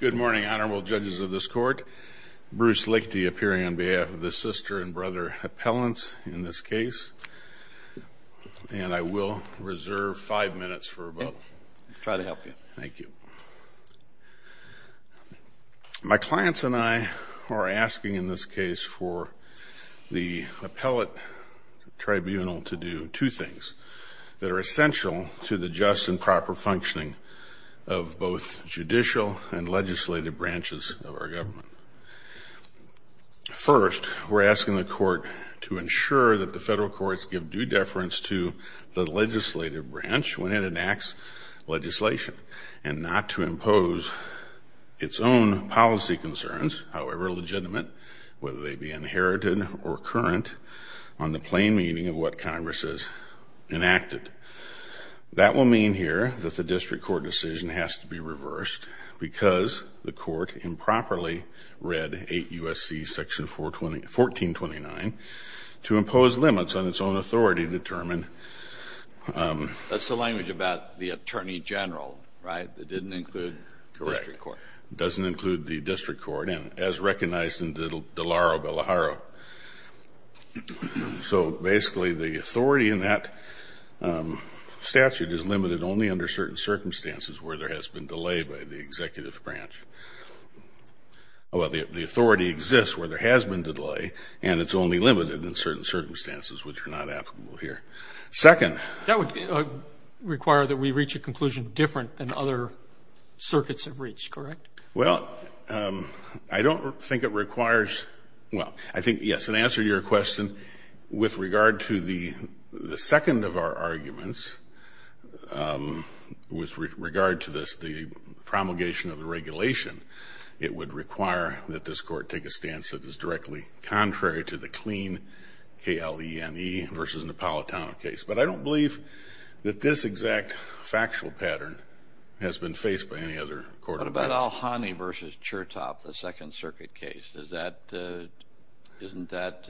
Good morning, Honorable Judges of this Court. Bruce Lichty appearing on behalf of the sister and brother appellants in this case. And I will reserve five minutes for a vote. Try to help you. Thank you. My clients and I are asking in this case for the appellate tribunal to do two things that are essential to the just and proper functioning of both judicial and legislative branches of our government. First, we're asking the court to ensure that the federal courts give due deference to the legislative branch when it enacts legislation and not to impose its own policy concerns, however legitimate, whether they be inherited or current, on the plain meaning of what Congress has enacted. That will mean here that the district court decision has to be reversed because the court improperly read 8 U.S.C. section 1429 to impose limits on its own authority to determine That's the language about the attorney general, right? It didn't include the district court. Correct. It doesn't include the district court, as recognized in De Laro Bellaharo. So, basically, the authority in that statute is limited only under certain circumstances where there has been delay by the executive branch. Well, the authority exists where there has been delay, and it's only limited in certain circumstances, which are not applicable here. Second. That would require that we reach a conclusion different than other circuits have reached, correct? Well, I don't think it requires, well, I think, yes, in answer to your question, with regard to the second of our arguments, with regard to this, the promulgation of the regulation, it would require that this court take a stance that is directly contrary to the clean K-L-E-N-E versus Napolitano case. But I don't believe that this exact factual pattern has been faced by any other court. What about Alhani versus Chertoff, the Second Circuit case? Does that, isn't that,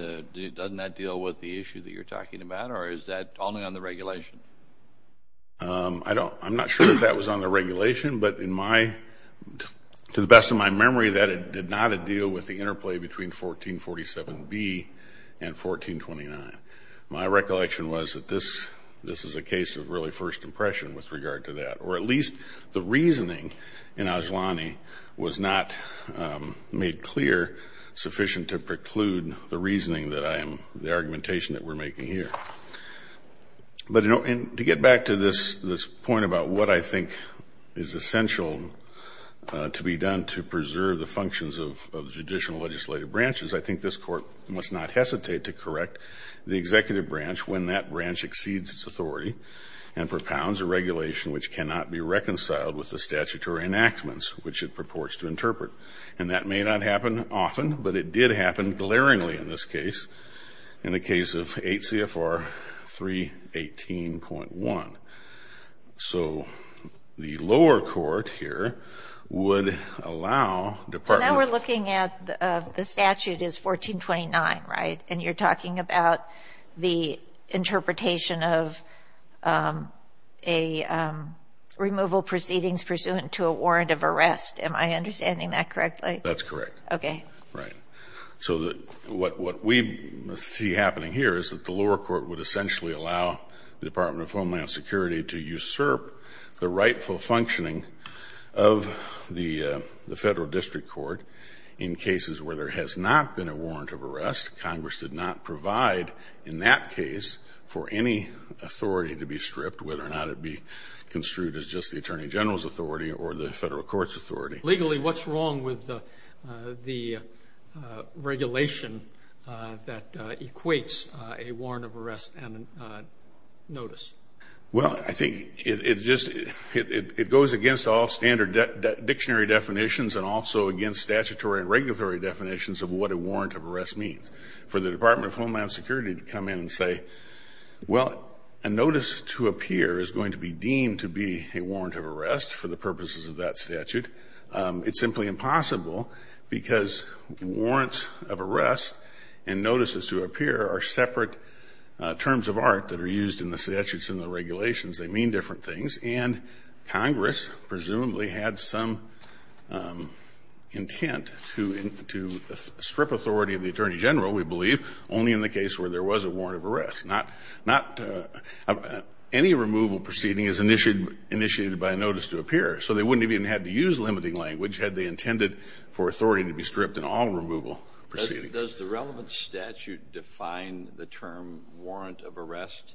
doesn't that deal with the issue that you're talking about? Or is that only on the regulation? I don't, I'm not sure if that was on the regulation, but in my, to the best of my memory, that did not deal with the interplay between 1447B and 1429. My recollection was that this, this is a case of really first impression with regard to that. Or at least the reasoning in Alhani was not made clear sufficient to preclude the reasoning that I am, the argumentation that we're making here. But to get back to this, this point about what I think is essential to be done to preserve the functions of judicial legislative branches, I think this Court must not hesitate to correct the executive branch when that branch exceeds its authority and propounds a regulation which cannot be reconciled with the statutory enactments which it purports to interpret. And that may not happen often, but it did happen glaringly in this case, in the case of 8 CFR 318.1. So the lower court here would allow departments. Now we're looking at the statute is 1429, right? And you're talking about the interpretation of a removal proceedings pursuant to a warrant of arrest. Am I understanding that correctly? That's correct. Okay. Right. So what we see happening here is that the lower court would essentially allow the Department of Homeland Security to usurp the rightful functioning of the Federal District Court in cases where there has not been a warrant of arrest. Congress did not provide in that case for any authority to be stripped, whether or not it be construed as just the Attorney General's authority or the Federal Court's authority. Legally, what's wrong with the regulation that equates a warrant of arrest and notice? Well, I think it goes against all standard dictionary definitions and also against statutory and regulatory definitions of what a warrant of arrest means. For the Department of Homeland Security to come in and say, well, a notice to appear is going to be deemed to be a warrant of arrest for the purposes of that statute. It's simply impossible because warrants of arrest and notices to appear are separate terms of art that are used in the statutes and the regulations. They mean different things. And Congress presumably had some intent to strip authority of the Attorney General, we believe, only in the case where there was a warrant of arrest. Not any removal proceeding is initiated by a notice to appear. So they wouldn't have even had to use limiting language had they intended for authority to be stripped in all removal proceedings. Does the relevant statute define the term warrant of arrest?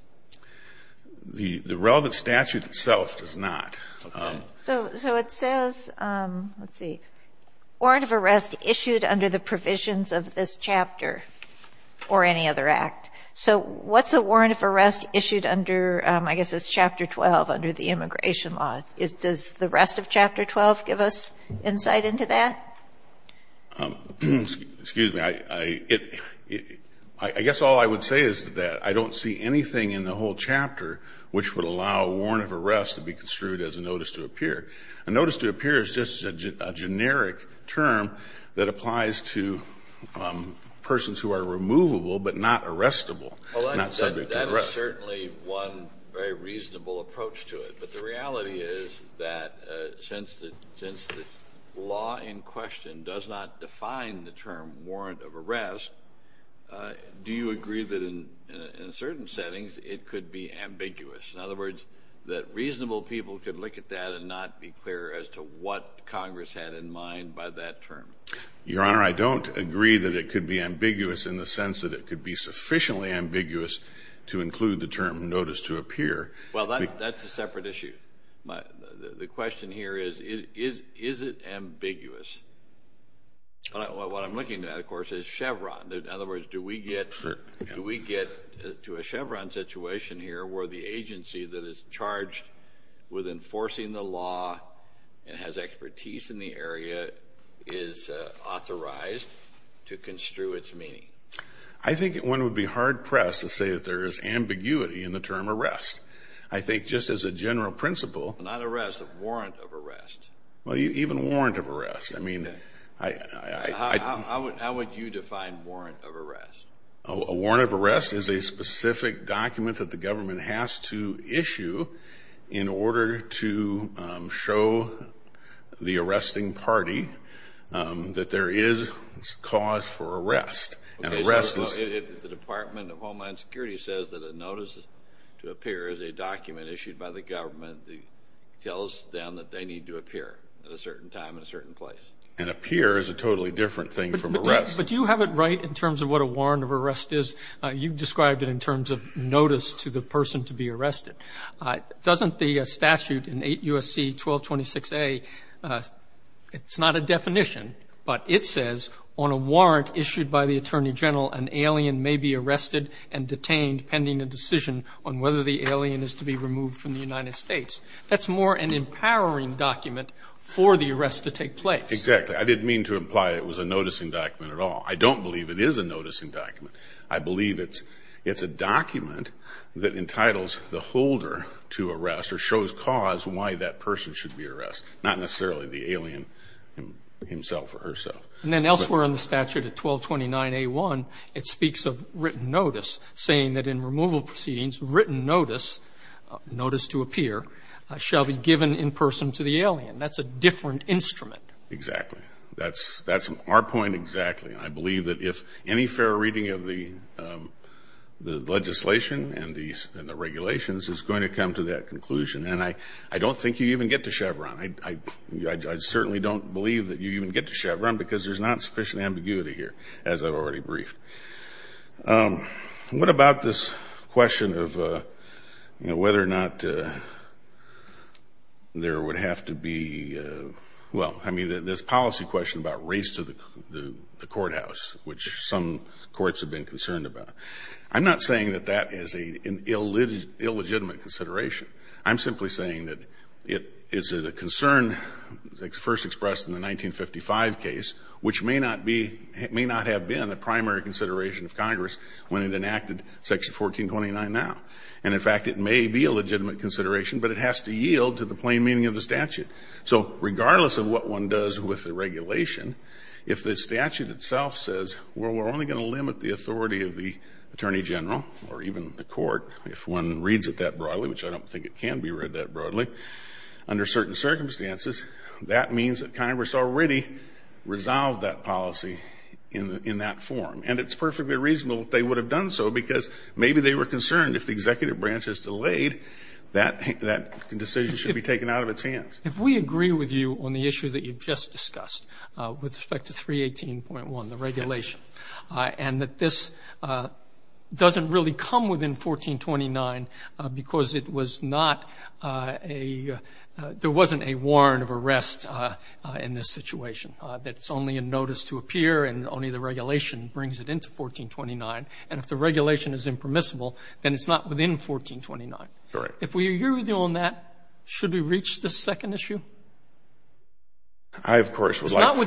The relevant statute itself does not. Okay. So it says, let's see, warrant of arrest issued under the provisions of this chapter or any other act. So what's a warrant of arrest issued under, I guess it's Chapter 12 under the immigration law? Does the rest of Chapter 12 give us insight into that? Excuse me. I guess all I would say is that I don't see anything in the whole chapter which would allow a warrant of arrest to be construed as a notice to appear. A notice to appear is just a generic term that applies to persons who are removable but not arrestable, not subject to arrest. But that is certainly one very reasonable approach to it. But the reality is that since the law in question does not define the term warrant of arrest, do you agree that in certain settings it could be ambiguous? In other words, that reasonable people could look at that and not be clear as to what Congress had in mind by that term? Your Honor, I don't agree that it could be ambiguous in the sense that it could be sufficiently ambiguous to include the term notice to appear. Well, that's a separate issue. The question here is, is it ambiguous? What I'm looking at, of course, is Chevron. In other words, do we get to a Chevron situation here where the agency that is charged with enforcing the law and has expertise in the area is authorized to construe its meaning? I think one would be hard-pressed to say that there is ambiguity in the term arrest. I think just as a general principle— Not arrest, a warrant of arrest. Well, even warrant of arrest. How would you define warrant of arrest? A warrant of arrest is a specific document that the government has to issue in order to show the arresting party that there is cause for arrest. Okay, so if the Department of Homeland Security says that a notice to appear is a document issued by the government that tells them that they need to appear at a certain time in a certain place. And appear is a totally different thing from arrest. But do you have it right in terms of what a warrant of arrest is? You described it in terms of notice to the person to be arrested. Doesn't the statute in 8 U.S.C. 1226a, it's not a definition, but it says on a warrant issued by the Attorney General, an alien may be arrested and detained pending a decision on whether the alien is to be removed from the United States. That's more an empowering document for the arrest to take place. Exactly. I didn't mean to imply it was a noticing document at all. I don't believe it is a noticing document. I believe it's a document that entitles the holder to arrest or shows cause why that person should be arrested. Not necessarily the alien himself or herself. And then elsewhere in the statute at 1229a1, it speaks of written notice, saying that in removal proceedings, written notice, notice to appear, shall be given in person to the alien. That's a different instrument. Exactly. That's our point exactly. I believe that if any fair reading of the legislation and the regulations is going to come to that conclusion. And I don't think you even get to Chevron. I certainly don't believe that you even get to Chevron because there's not sufficient ambiguity here, as I've already briefed. What about this question of whether or not there would have to be, well, I mean, this policy question about race to the courthouse, which some courts have been concerned about. I'm not saying that that is an illegitimate consideration. I'm simply saying that it is a concern first expressed in the 1955 case, which may not be, may not have been a primary consideration of Congress when it enacted section 1429 now. And in fact, it may be a legitimate consideration, but it has to yield to the plain meaning of the statute. So regardless of what one does with the regulation, if the statute itself says, well, we're only going to limit the authority of the attorney general or even the court, if one reads it that broadly, which I don't think it can be read that broadly, under certain circumstances, that means that Congress already resolved that policy in that form. And it's perfectly reasonable that they would have done so because maybe they were concerned if the executive branch is delayed, that decision should be taken out of its hands. If we agree with you on the issue that you've just discussed with respect to 318.1, the regulation, and that this doesn't really come within 1429 because it was not a, there wasn't a warrant of arrest in this situation, that it's only a notice to appear and only the regulation brings it into 1429, and if the regulation is impermissible, then it's not within 1429. Correct. If we agree with you on that, should we reach this second issue? I, of course, would like to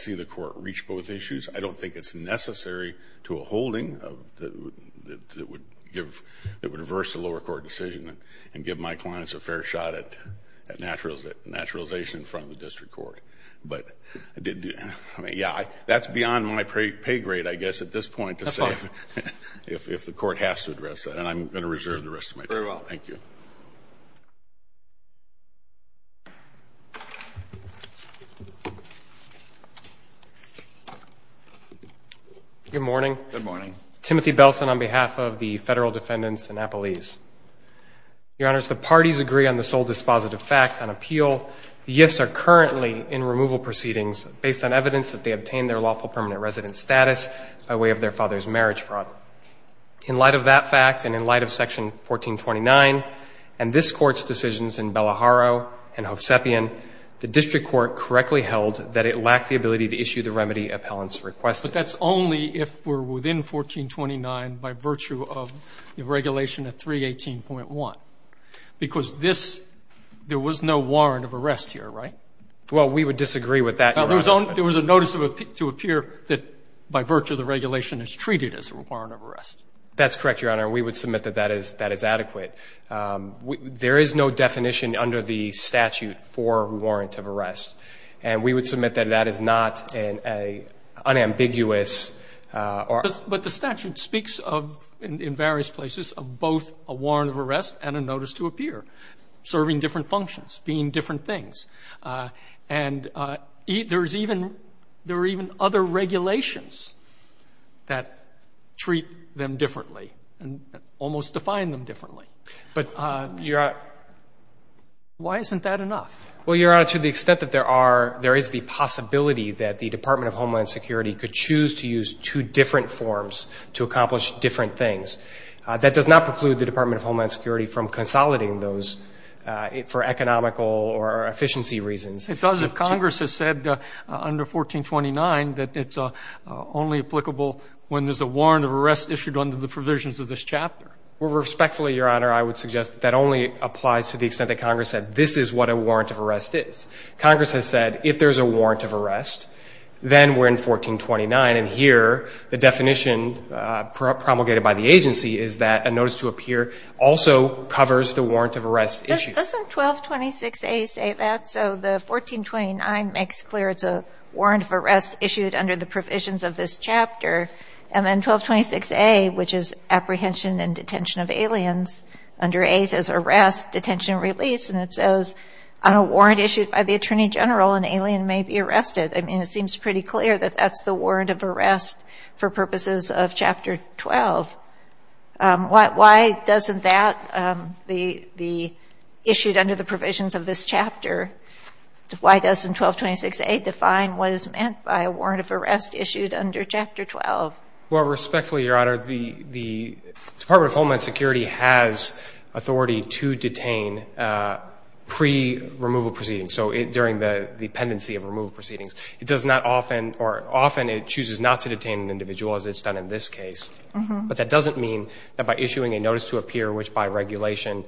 see the court reach both issues. I don't think it's necessary to a holding that would give, that would reverse the lower court decision and give my clients a fair shot at naturalization in front of the district court. But I did, I mean, yeah, that's beyond my pay grade, I guess, at this point to say if the court has to address that, and I'm going to reserve the rest of my time. Very well. Thank you. Good morning. Good morning. Timothy Belson on behalf of the Federal Defendants in Napolese. Your Honors, the parties agree on the sole dispositive fact on appeal. The gifts are currently in removal proceedings based on evidence that they obtained their lawful permanent residence status by way of their father's marriage fraud. In light of that fact and in light of section 1429 and this Court's decisions in Bellaharo and Hovsepian, the district court correctly held that it lacked the ability to issue the remedy appellants requested. But that's only if we're within 1429 by virtue of the regulation at 318.1. Because this, there was no warrant of arrest here, right? Well, we would disagree with that, Your Honor. There was a notice to appear that by virtue of the regulation is treated as a warrant of arrest. That's correct, Your Honor. We would submit that that is adequate. There is no definition under the statute for warrant of arrest. And we would submit that that is not an unambiguous or unambiguous. But the statute speaks of, in various places, of both a warrant of arrest and a notice to appear, serving different functions, being different things. And there is even other regulations that treat them differently and almost define them differently. But, Your Honor, why isn't that enough? Well, Your Honor, to the extent that there are, there is the possibility that the Department of Homeland Security could choose to use two different forms to accomplish different things. That does not preclude the Department of Homeland Security from consolidating those for economical or efficiency reasons. It does if Congress has said under 1429 that it's only applicable when there's a warrant of arrest issued under the provisions of this chapter. Well, respectfully, Your Honor, I would suggest that that only applies to the extent that Congress said this is what a warrant of arrest is. Congress has said if there's a warrant of arrest, then we're in 1429. And here, the definition promulgated by the agency is that a notice to appear also covers the warrant of arrest issue. Doesn't 1226A say that? So the 1429 makes clear it's a warrant of arrest issued under the provisions of this chapter. And then 1226A, which is apprehension and detention of aliens, under A says arrest, detention, release, and it says on a warrant issued by the Attorney General, an alien may be arrested. I mean, it seems pretty clear that that's the warrant of arrest for purposes of Chapter 12. Why doesn't that be issued under the provisions of this chapter? Why doesn't 1226A define what is meant by a warrant of arrest issued under Chapter 12? Well, respectfully, Your Honor, the Department of Homeland Security has authority to detain pre-removal proceedings, so during the pendency of removal proceedings. It does not often or often it chooses not to detain an individual, as it's done in this case. But that doesn't mean that by issuing a notice to appear, which by regulation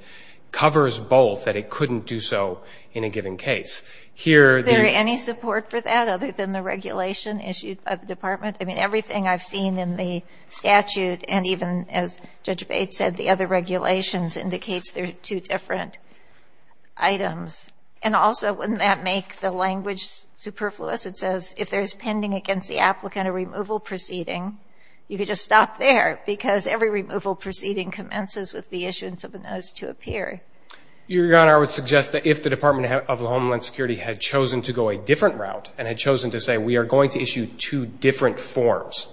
covers both, that it couldn't do so in a given case. Here, the ---- Is there any support for that other than the regulation issued by the Department? I mean, everything I've seen in the statute and even, as Judge Bates said, the other regulations indicates there are two different items. And also, wouldn't that make the language superfluous? It says, if there's pending against the applicant a removal proceeding, you could just stop there because every removal proceeding commences with the issuance of a notice to appear. Your Honor, I would suggest that if the Department of Homeland Security had chosen to go a different route and had chosen to say, we are going to issue two different forms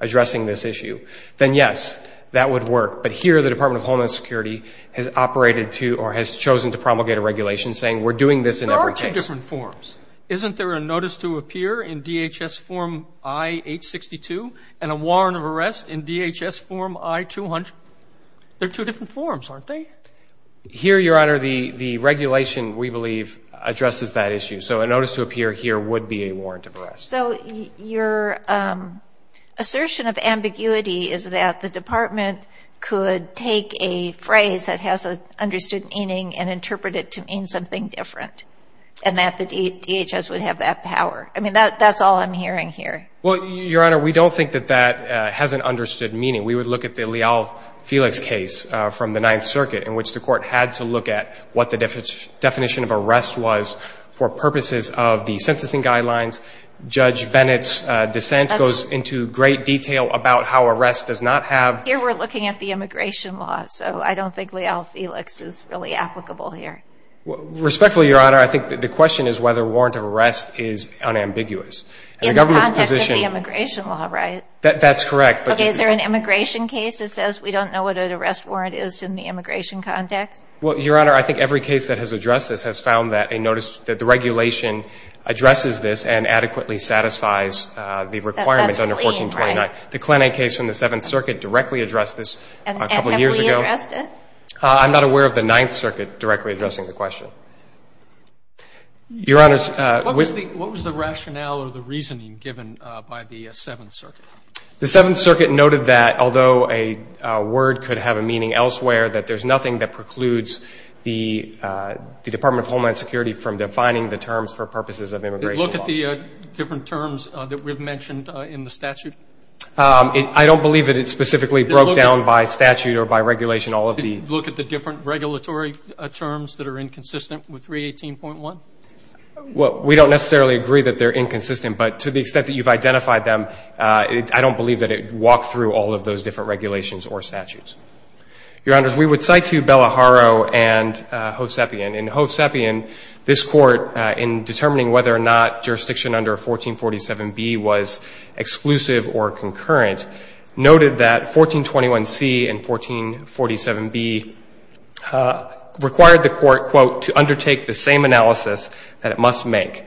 addressing this issue, then yes, that would work. But here, the Department of Homeland Security has operated to or has chosen to promulgate a regulation saying, we're doing this in every case. There are two different forms. Isn't there a notice to appear in DHS form I-862 and a warrant of arrest in DHS form I-200? They're two different forms, aren't they? Here, Your Honor, the regulation, we believe, addresses that issue. So a notice to appear here would be a warrant of arrest. So your assertion of ambiguity is that the Department could take a phrase that has an understood meaning and interpret it to mean something different and that the DHS would have that power. I mean, that's all I'm hearing here. Well, Your Honor, we don't think that that has an understood meaning. We would look at the Leal-Felix case from the Ninth Circuit in which the court had to look at what the definition of arrest was for purposes of the sentencing guidelines. Judge Bennett's dissent goes into great detail about how arrest does not have Here we're looking at the immigration law, so I don't think Leal-Felix is really applicable here. Respectfully, Your Honor, I think the question is whether warrant of arrest is unambiguous. In the context of the immigration law, right? That's correct. Okay, is there an immigration case that says we don't know what an arrest warrant is in the immigration context? Well, Your Honor, I think every case that has addressed this has found that a notice that the regulation addresses this and adequately satisfies the requirements That's the same, right? The Klenek case from the Seventh Circuit directly addressed this a couple years ago. And have we addressed it? I'm not aware of the Ninth Circuit directly addressing the question. Your Honor, what was the rationale or the reasoning given by the Seventh Circuit? The Seventh Circuit noted that although a word could have a meaning elsewhere, that there's nothing that precludes the Department of Homeland Security from defining the terms for purposes of immigration law. Did it look at the different terms that we've mentioned in the statute? I don't believe that it specifically broke down by statute or by regulation all of the Did it look at the different regulatory terms that are inconsistent with 318.1? Well, we don't necessarily agree that they're inconsistent, but to the extent that you've identified them, I don't believe that it walked through all of those different regulations or statutes. Your Honors, we would cite to Bellaharo and Hosepian. In Hosepian, this Court, in determining whether or not jurisdiction under 1447B was exclusive or concurrent, noted that 1421C and 1447B required the Court, quote, to undertake the same analysis that it must make.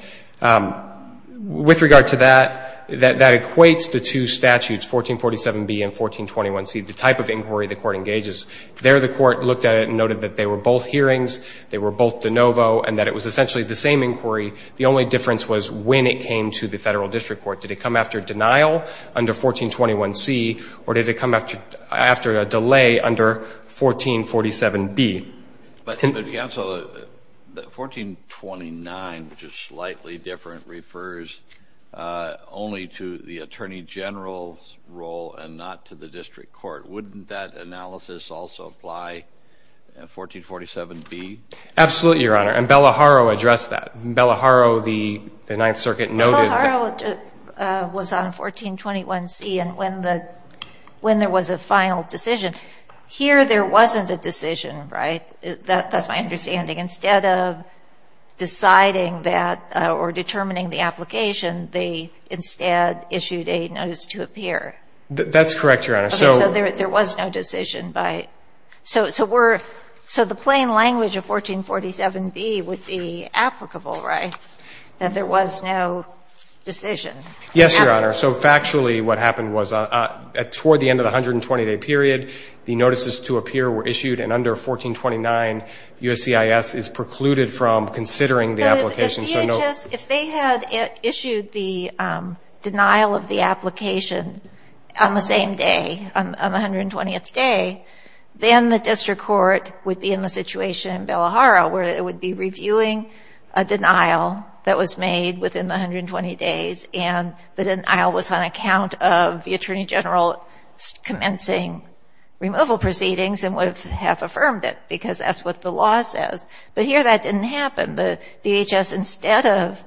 With regard to that, that equates the two statutes, 1447B and 1421C, the type of inquiry the Court engages. There, the Court looked at it and noted that they were both hearings. They were both de novo and that it was essentially the same inquiry. The only difference was when it came to the Federal District Court. Did it come after denial under 1421C or did it come after a delay under 1447B? But, Counsel, 1429, which is slightly different, refers only to the Attorney General's role and not to the District Court. Wouldn't that analysis also apply in 1447B? Absolutely, Your Honor. And Bellaharo addressed that. Bellaharo, the Ninth Circuit, noted that. Bellaharo was on 1421C and when there was a final decision. Here, there wasn't a decision, right? That's my understanding. Instead of deciding that or determining the application, they instead issued a notice to appear. That's correct, Your Honor. So there was no decision. So the plain language of 1447B would be applicable, right? That there was no decision. Yes, Your Honor. So factually, what happened was toward the end of the 120-day period, the notices to appear were issued and under 1429, USCIS is precluded from considering the application. If they had issued the denial of the application on the same day, on the 120th day, then the District Court would be in the situation in Bellaharo where it would be reviewing a denial that was made within the 120 days and the denial was on account of the Attorney General commencing removal proceedings and would have affirmed it because that's what the law says. But here, that didn't happen. The DHS, instead of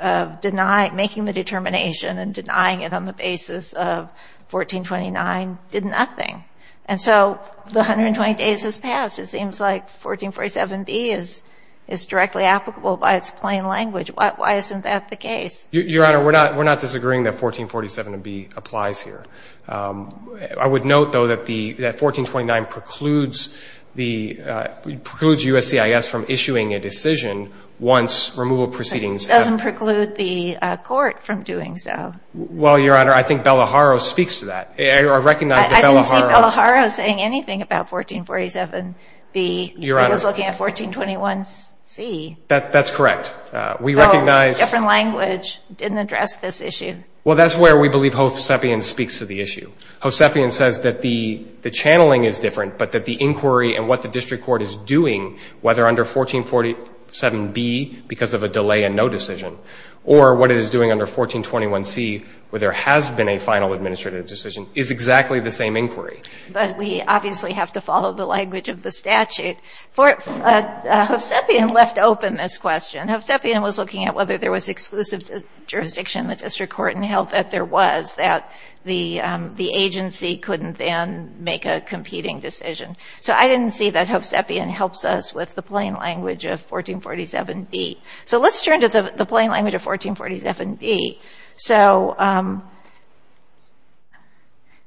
making the determination and denying it on the basis of 1429, did nothing. And so the 120 days has passed. It seems like 1447B is directly applicable by its plain language. Why isn't that the case? Your Honor, we're not disagreeing that 1447B applies here. I would note, though, that 1429 precludes USCIS from issuing a decision once removal proceedings happen. It doesn't preclude the Court from doing so. Well, Your Honor, I think Bellaharo speaks to that. I recognize that Bellaharo... I didn't see Bellaharo saying anything about 1447B. Your Honor... I was looking at 1421C. That's correct. We recognize... Oh, different language. Didn't address this issue. Well, that's where we believe Hosepian speaks to the issue. Hosepian says that the channeling is different, but that the inquiry and what the District Court is doing, whether under 1447B, because of a delay in no decision, or what it is doing under 1421C, where there has been a final administrative decision, is exactly the same inquiry. But we obviously have to follow the language of the statute. Hosepian left open this question. Hosepian was looking at whether there was exclusive jurisdiction in the District Court and held that there was, that the agency couldn't then make a competing decision. So I didn't see that Hosepian helps us with the plain language of 1447B. So let's turn to the plain language of 1447B. So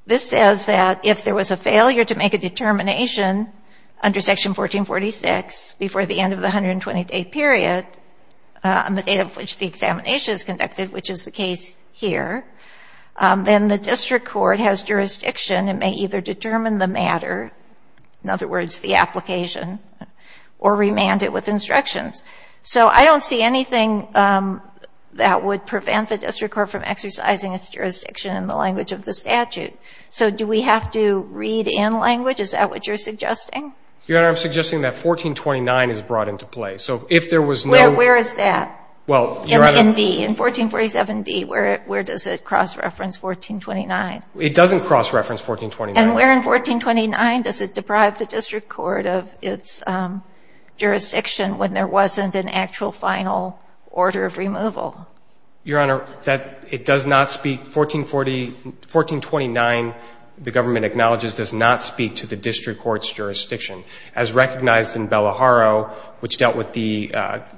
this says that if there was a failure to make a determination under Section 1446 before the end of the 120-day period, on the date of which the examination is conducted, which is the case here, then the District Court has jurisdiction and may either determine the matter, in other words, the application, or remand it with instructions. So I don't see anything that would prevent the District Court from exercising its jurisdiction in the language of the statute. So do we have to read in language? Is that what you're suggesting? Your Honor, I'm suggesting that 1429 is brought into play. So if there was no... Well, where is that in 1447B? Where does it cross-reference 1429? It doesn't cross-reference 1429. And where in 1429 does it deprive the District Court of its jurisdiction when there wasn't an actual final order of removal? Your Honor, it does not speak... 1429, the government acknowledges, does not speak to the District Court's jurisdiction, as recognized in Bellaharo, which dealt with the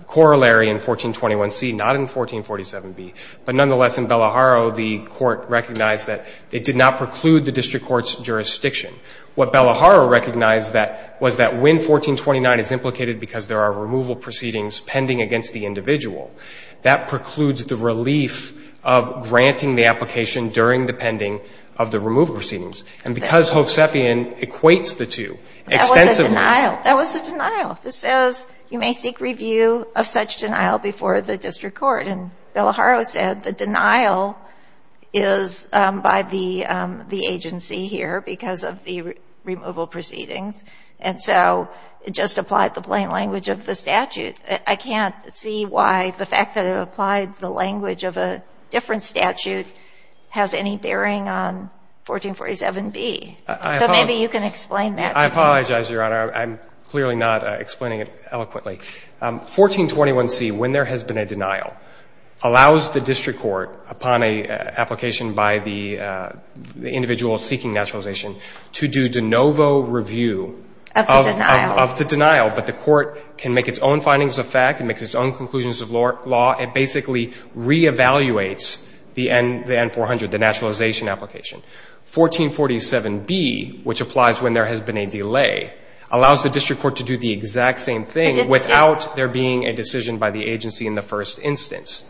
corollary in 1421C, not in 1447B. But nonetheless, in Bellaharo, the Court recognized that it did not preclude the District Court's jurisdiction. What Bellaharo recognized was that when 1429 is implicated because there are removal proceedings pending against the individual, that precludes the relief of granting the application during the pending of the removal proceedings. And because Hovsepian equates the two extensively... That was a denial. That was a denial. It says you may seek review of such denial before the District Court. And Bellaharo said the denial is by the agency here because of the removal proceedings. And so it just applied the plain language of the statute. I can't see why the fact that it applied the language of a different statute has any bearing on 1447B. So maybe you can explain that. I apologize, Your Honor. I'm clearly not explaining it eloquently. 1421C, when there has been a denial, allows the District Court, upon an application by the individual seeking naturalization, to do de novo review... Of the denial. ...of the denial. But the Court can make its own findings of fact and make its own conclusions of law. It basically re-evaluates the N400, the naturalization application. 1447B, which applies when there has been a delay, allows the District Court to do the exact same thing... ...without there being a decision by the agency in the first instance.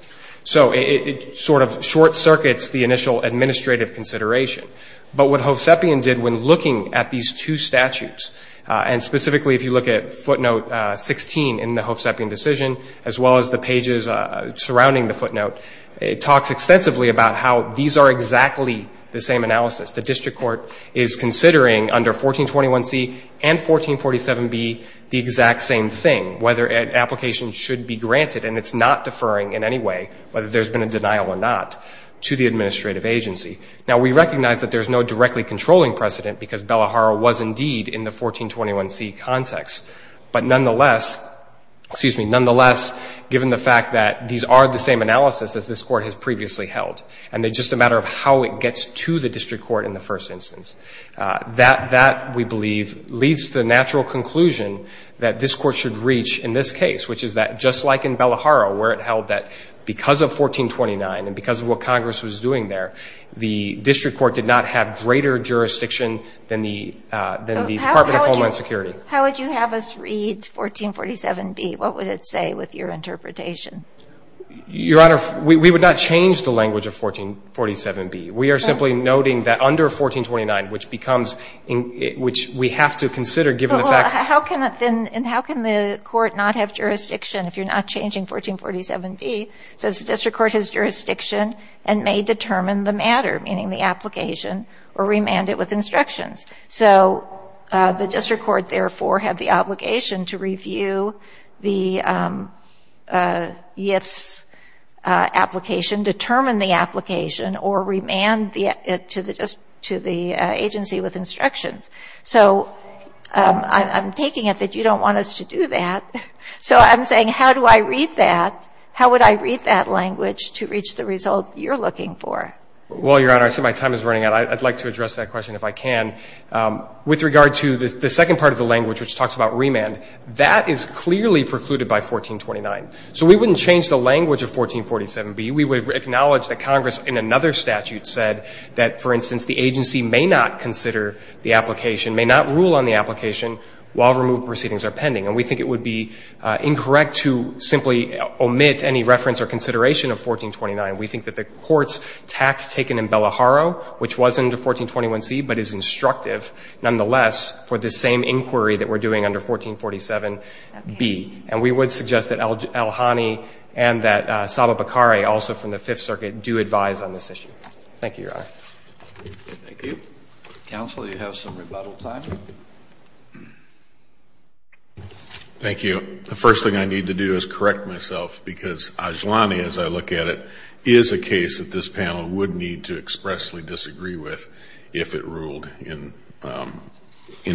So it sort of short-circuits the initial administrative consideration. But what Hovsepian did when looking at these two statutes, and specifically if you look at footnote 16 in the Hovsepian decision, as well as the pages surrounding the footnote, it talks extensively about how these are exactly the same analysis. The District Court is considering, under 1421C and 1447B, the exact same thing, whether an application should be granted, and it's not deferring in any way, whether there's been a denial or not, to the administrative agency. Now, we recognize that there's no directly controlling precedent because Bellahara was indeed in the 1421C context. But nonetheless, excuse me, nonetheless, given the fact that these are the same analysis as this Court has previously held, and it's just a matter of how it gets to the District Court in the first instance. That, we believe, leads to the natural conclusion that this Court should reach in this case, which is that just like in Bellahara, where it held that because of 1429 and because of what Congress was doing there, the District Court did not have greater jurisdiction than the Department of Homeland Security. How would you have us read 1447B? What would it say with your interpretation? Your Honor, we would not change the language of 1447B. We are simply noting that under 1429, which becomes, which we have to consider, given the fact... Well, how can the Court not have jurisdiction if you're not changing 1447B? It says the District Court has jurisdiction and may determine the matter, meaning the application, or remand it with instructions. So the District Court, therefore, had the obligation to review the YIF's application, determine the application, or remand it to the agency with instructions. So I'm taking it that you don't want us to do that. So I'm saying, how do I read that? How would I read that language to reach the result you're looking for? Well, Your Honor, I see my time is running out. I'd like to address that question if I can. With regard to the second part of the language, which talks about remand, that is clearly precluded by 1429. So we wouldn't change the language of 1447B. We would acknowledge that Congress, in another statute, said that, for instance, the agency may not consider the application, may not rule on the application while removed proceedings are pending. And we think it would be incorrect to simply omit any reference or consideration of 1429. We think that the Court's tact taken in Bellaharo, which was under 1421C, but is instructive, nonetheless, for this same inquiry that we're doing under 1447B. And we would suggest that Elhani and that Saba Bakari, also from the Fifth Circuit, do advise on this issue. Thank you, Your Honor. Thank you. Counsel, you have some rebuttal time. Thank you. The first thing I need to do is correct myself because Elhani, as I look at it, is a case that this panel would need to expressly disagree with if it ruled in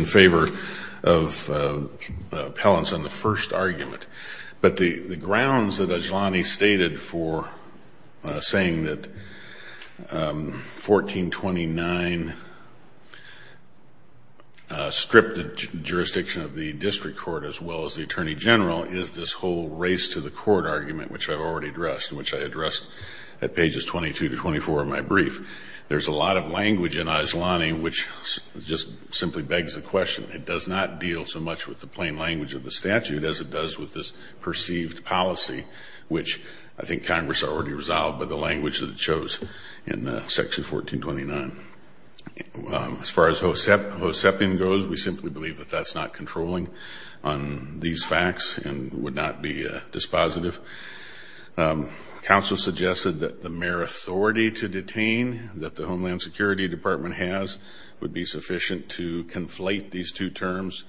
favor of Appellant's on the first argument. But the grounds that Elhani stated for saying that 1429 stripped the jurisdiction of the District Court as well as the Attorney General is this whole race to the Court argument, which I've already addressed and which I addressed at pages 22 to 24 of my brief. There's a lot of language in Elhani which just simply begs the question. It does not deal so much with the plain language of the statute as it does with this perceived policy, which I think Congress already resolved by the language that it chose in section 1429. As far as Hosepian goes, we simply believe that that's not controlling on these facts and would not be dispositive. Counsel suggested that the mere authority to detain that the Homeland Security Department has would be sufficient to conflate these two terms.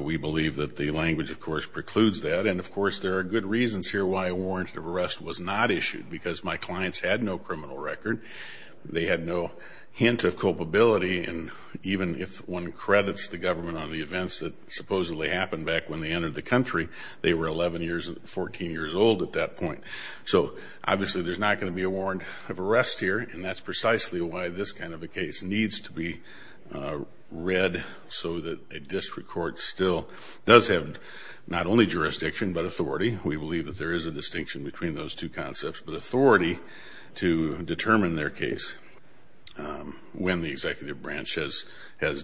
We believe that the language of course precludes that and of course there are good reasons here why a warrant of arrest was not issued because my clients had no criminal record. They had no hint of culpability and even if one credits the government on the events that supposedly happened back when they entered the country, they were 11 years and 14 years old at that point. So obviously there's not going to be a warrant of arrest here and that's precisely why this kind of a case needs to be read so that a district court still does have not only jurisdiction but authority. We believe that there is a distinction between those two concepts but authority to determine their case when the executive branch has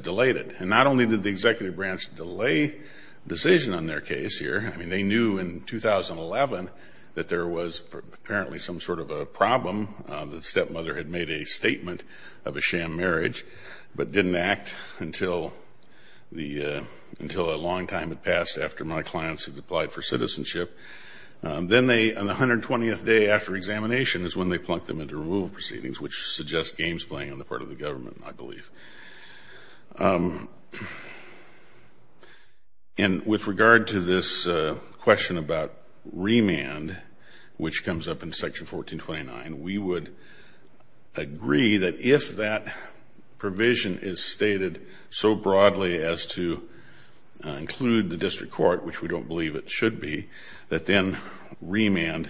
delayed it. And not only did the executive branch delay a decision on their case here, they knew in 2011 that there was apparently some sort of a problem. The stepmother had made a statement of a sham marriage but didn't act until a long time had passed after my clients had applied for citizenship. Then on the 120th day after examination is when they plunked them into removal proceedings which suggests games playing on the part of the government I believe. And with regard to this question about remand which comes up in section 1429, we would agree that if that provision is stated so broadly as to include the district court which we don't believe it should be that then remand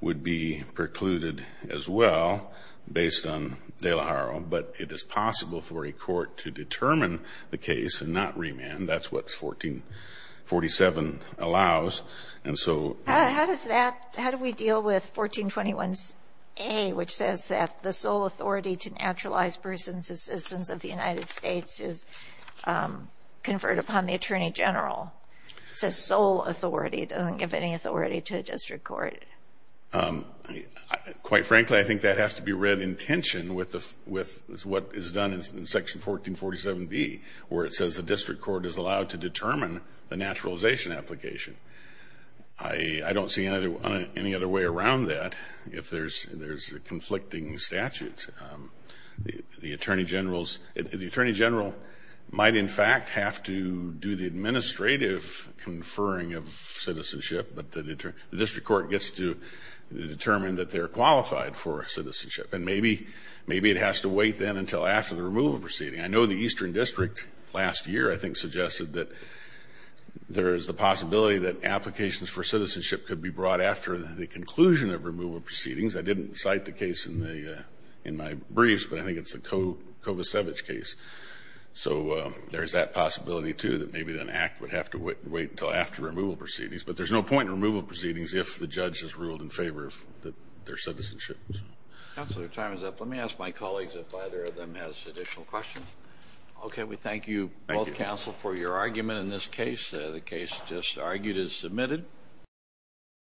would be precluded as well based on De La Hara but it is possible for a court to determine the case and not remand. That's what 1447 allows and so... How do we deal with 1421A which says that the sole authority to naturalize persons' assistance of the United States is conferred upon the Attorney General? It says sole authority it doesn't give any authority to a district court. Quite frankly I think that has to be read in tension with what is done in section 1447B where it says the district court is allowed to determine the naturalization application. I don't see any other way around that if there is a conflicting statute. The Attorney General might in fact have to do the administrative conferring of citizenship but the district court gets to determine that they are qualified for citizenship and maybe it has to wait then until after the removal proceeding. I know the Eastern District last year I think suggested that there is the possibility that applications for citizenship could be brought after the conclusion of removal proceedings. I didn't cite the case in my briefs but I think it's the Kovacevic case. So there is that possibility too that maybe an act would have to wait until after removal proceedings but there is no point in removal proceedings if the judge has ruled in favor of their citizenship. Counselor, time is up. Let me ask my colleagues if either of them has additional questions. We thank you both counsel for your argument in this case. The case just closed. Thank you.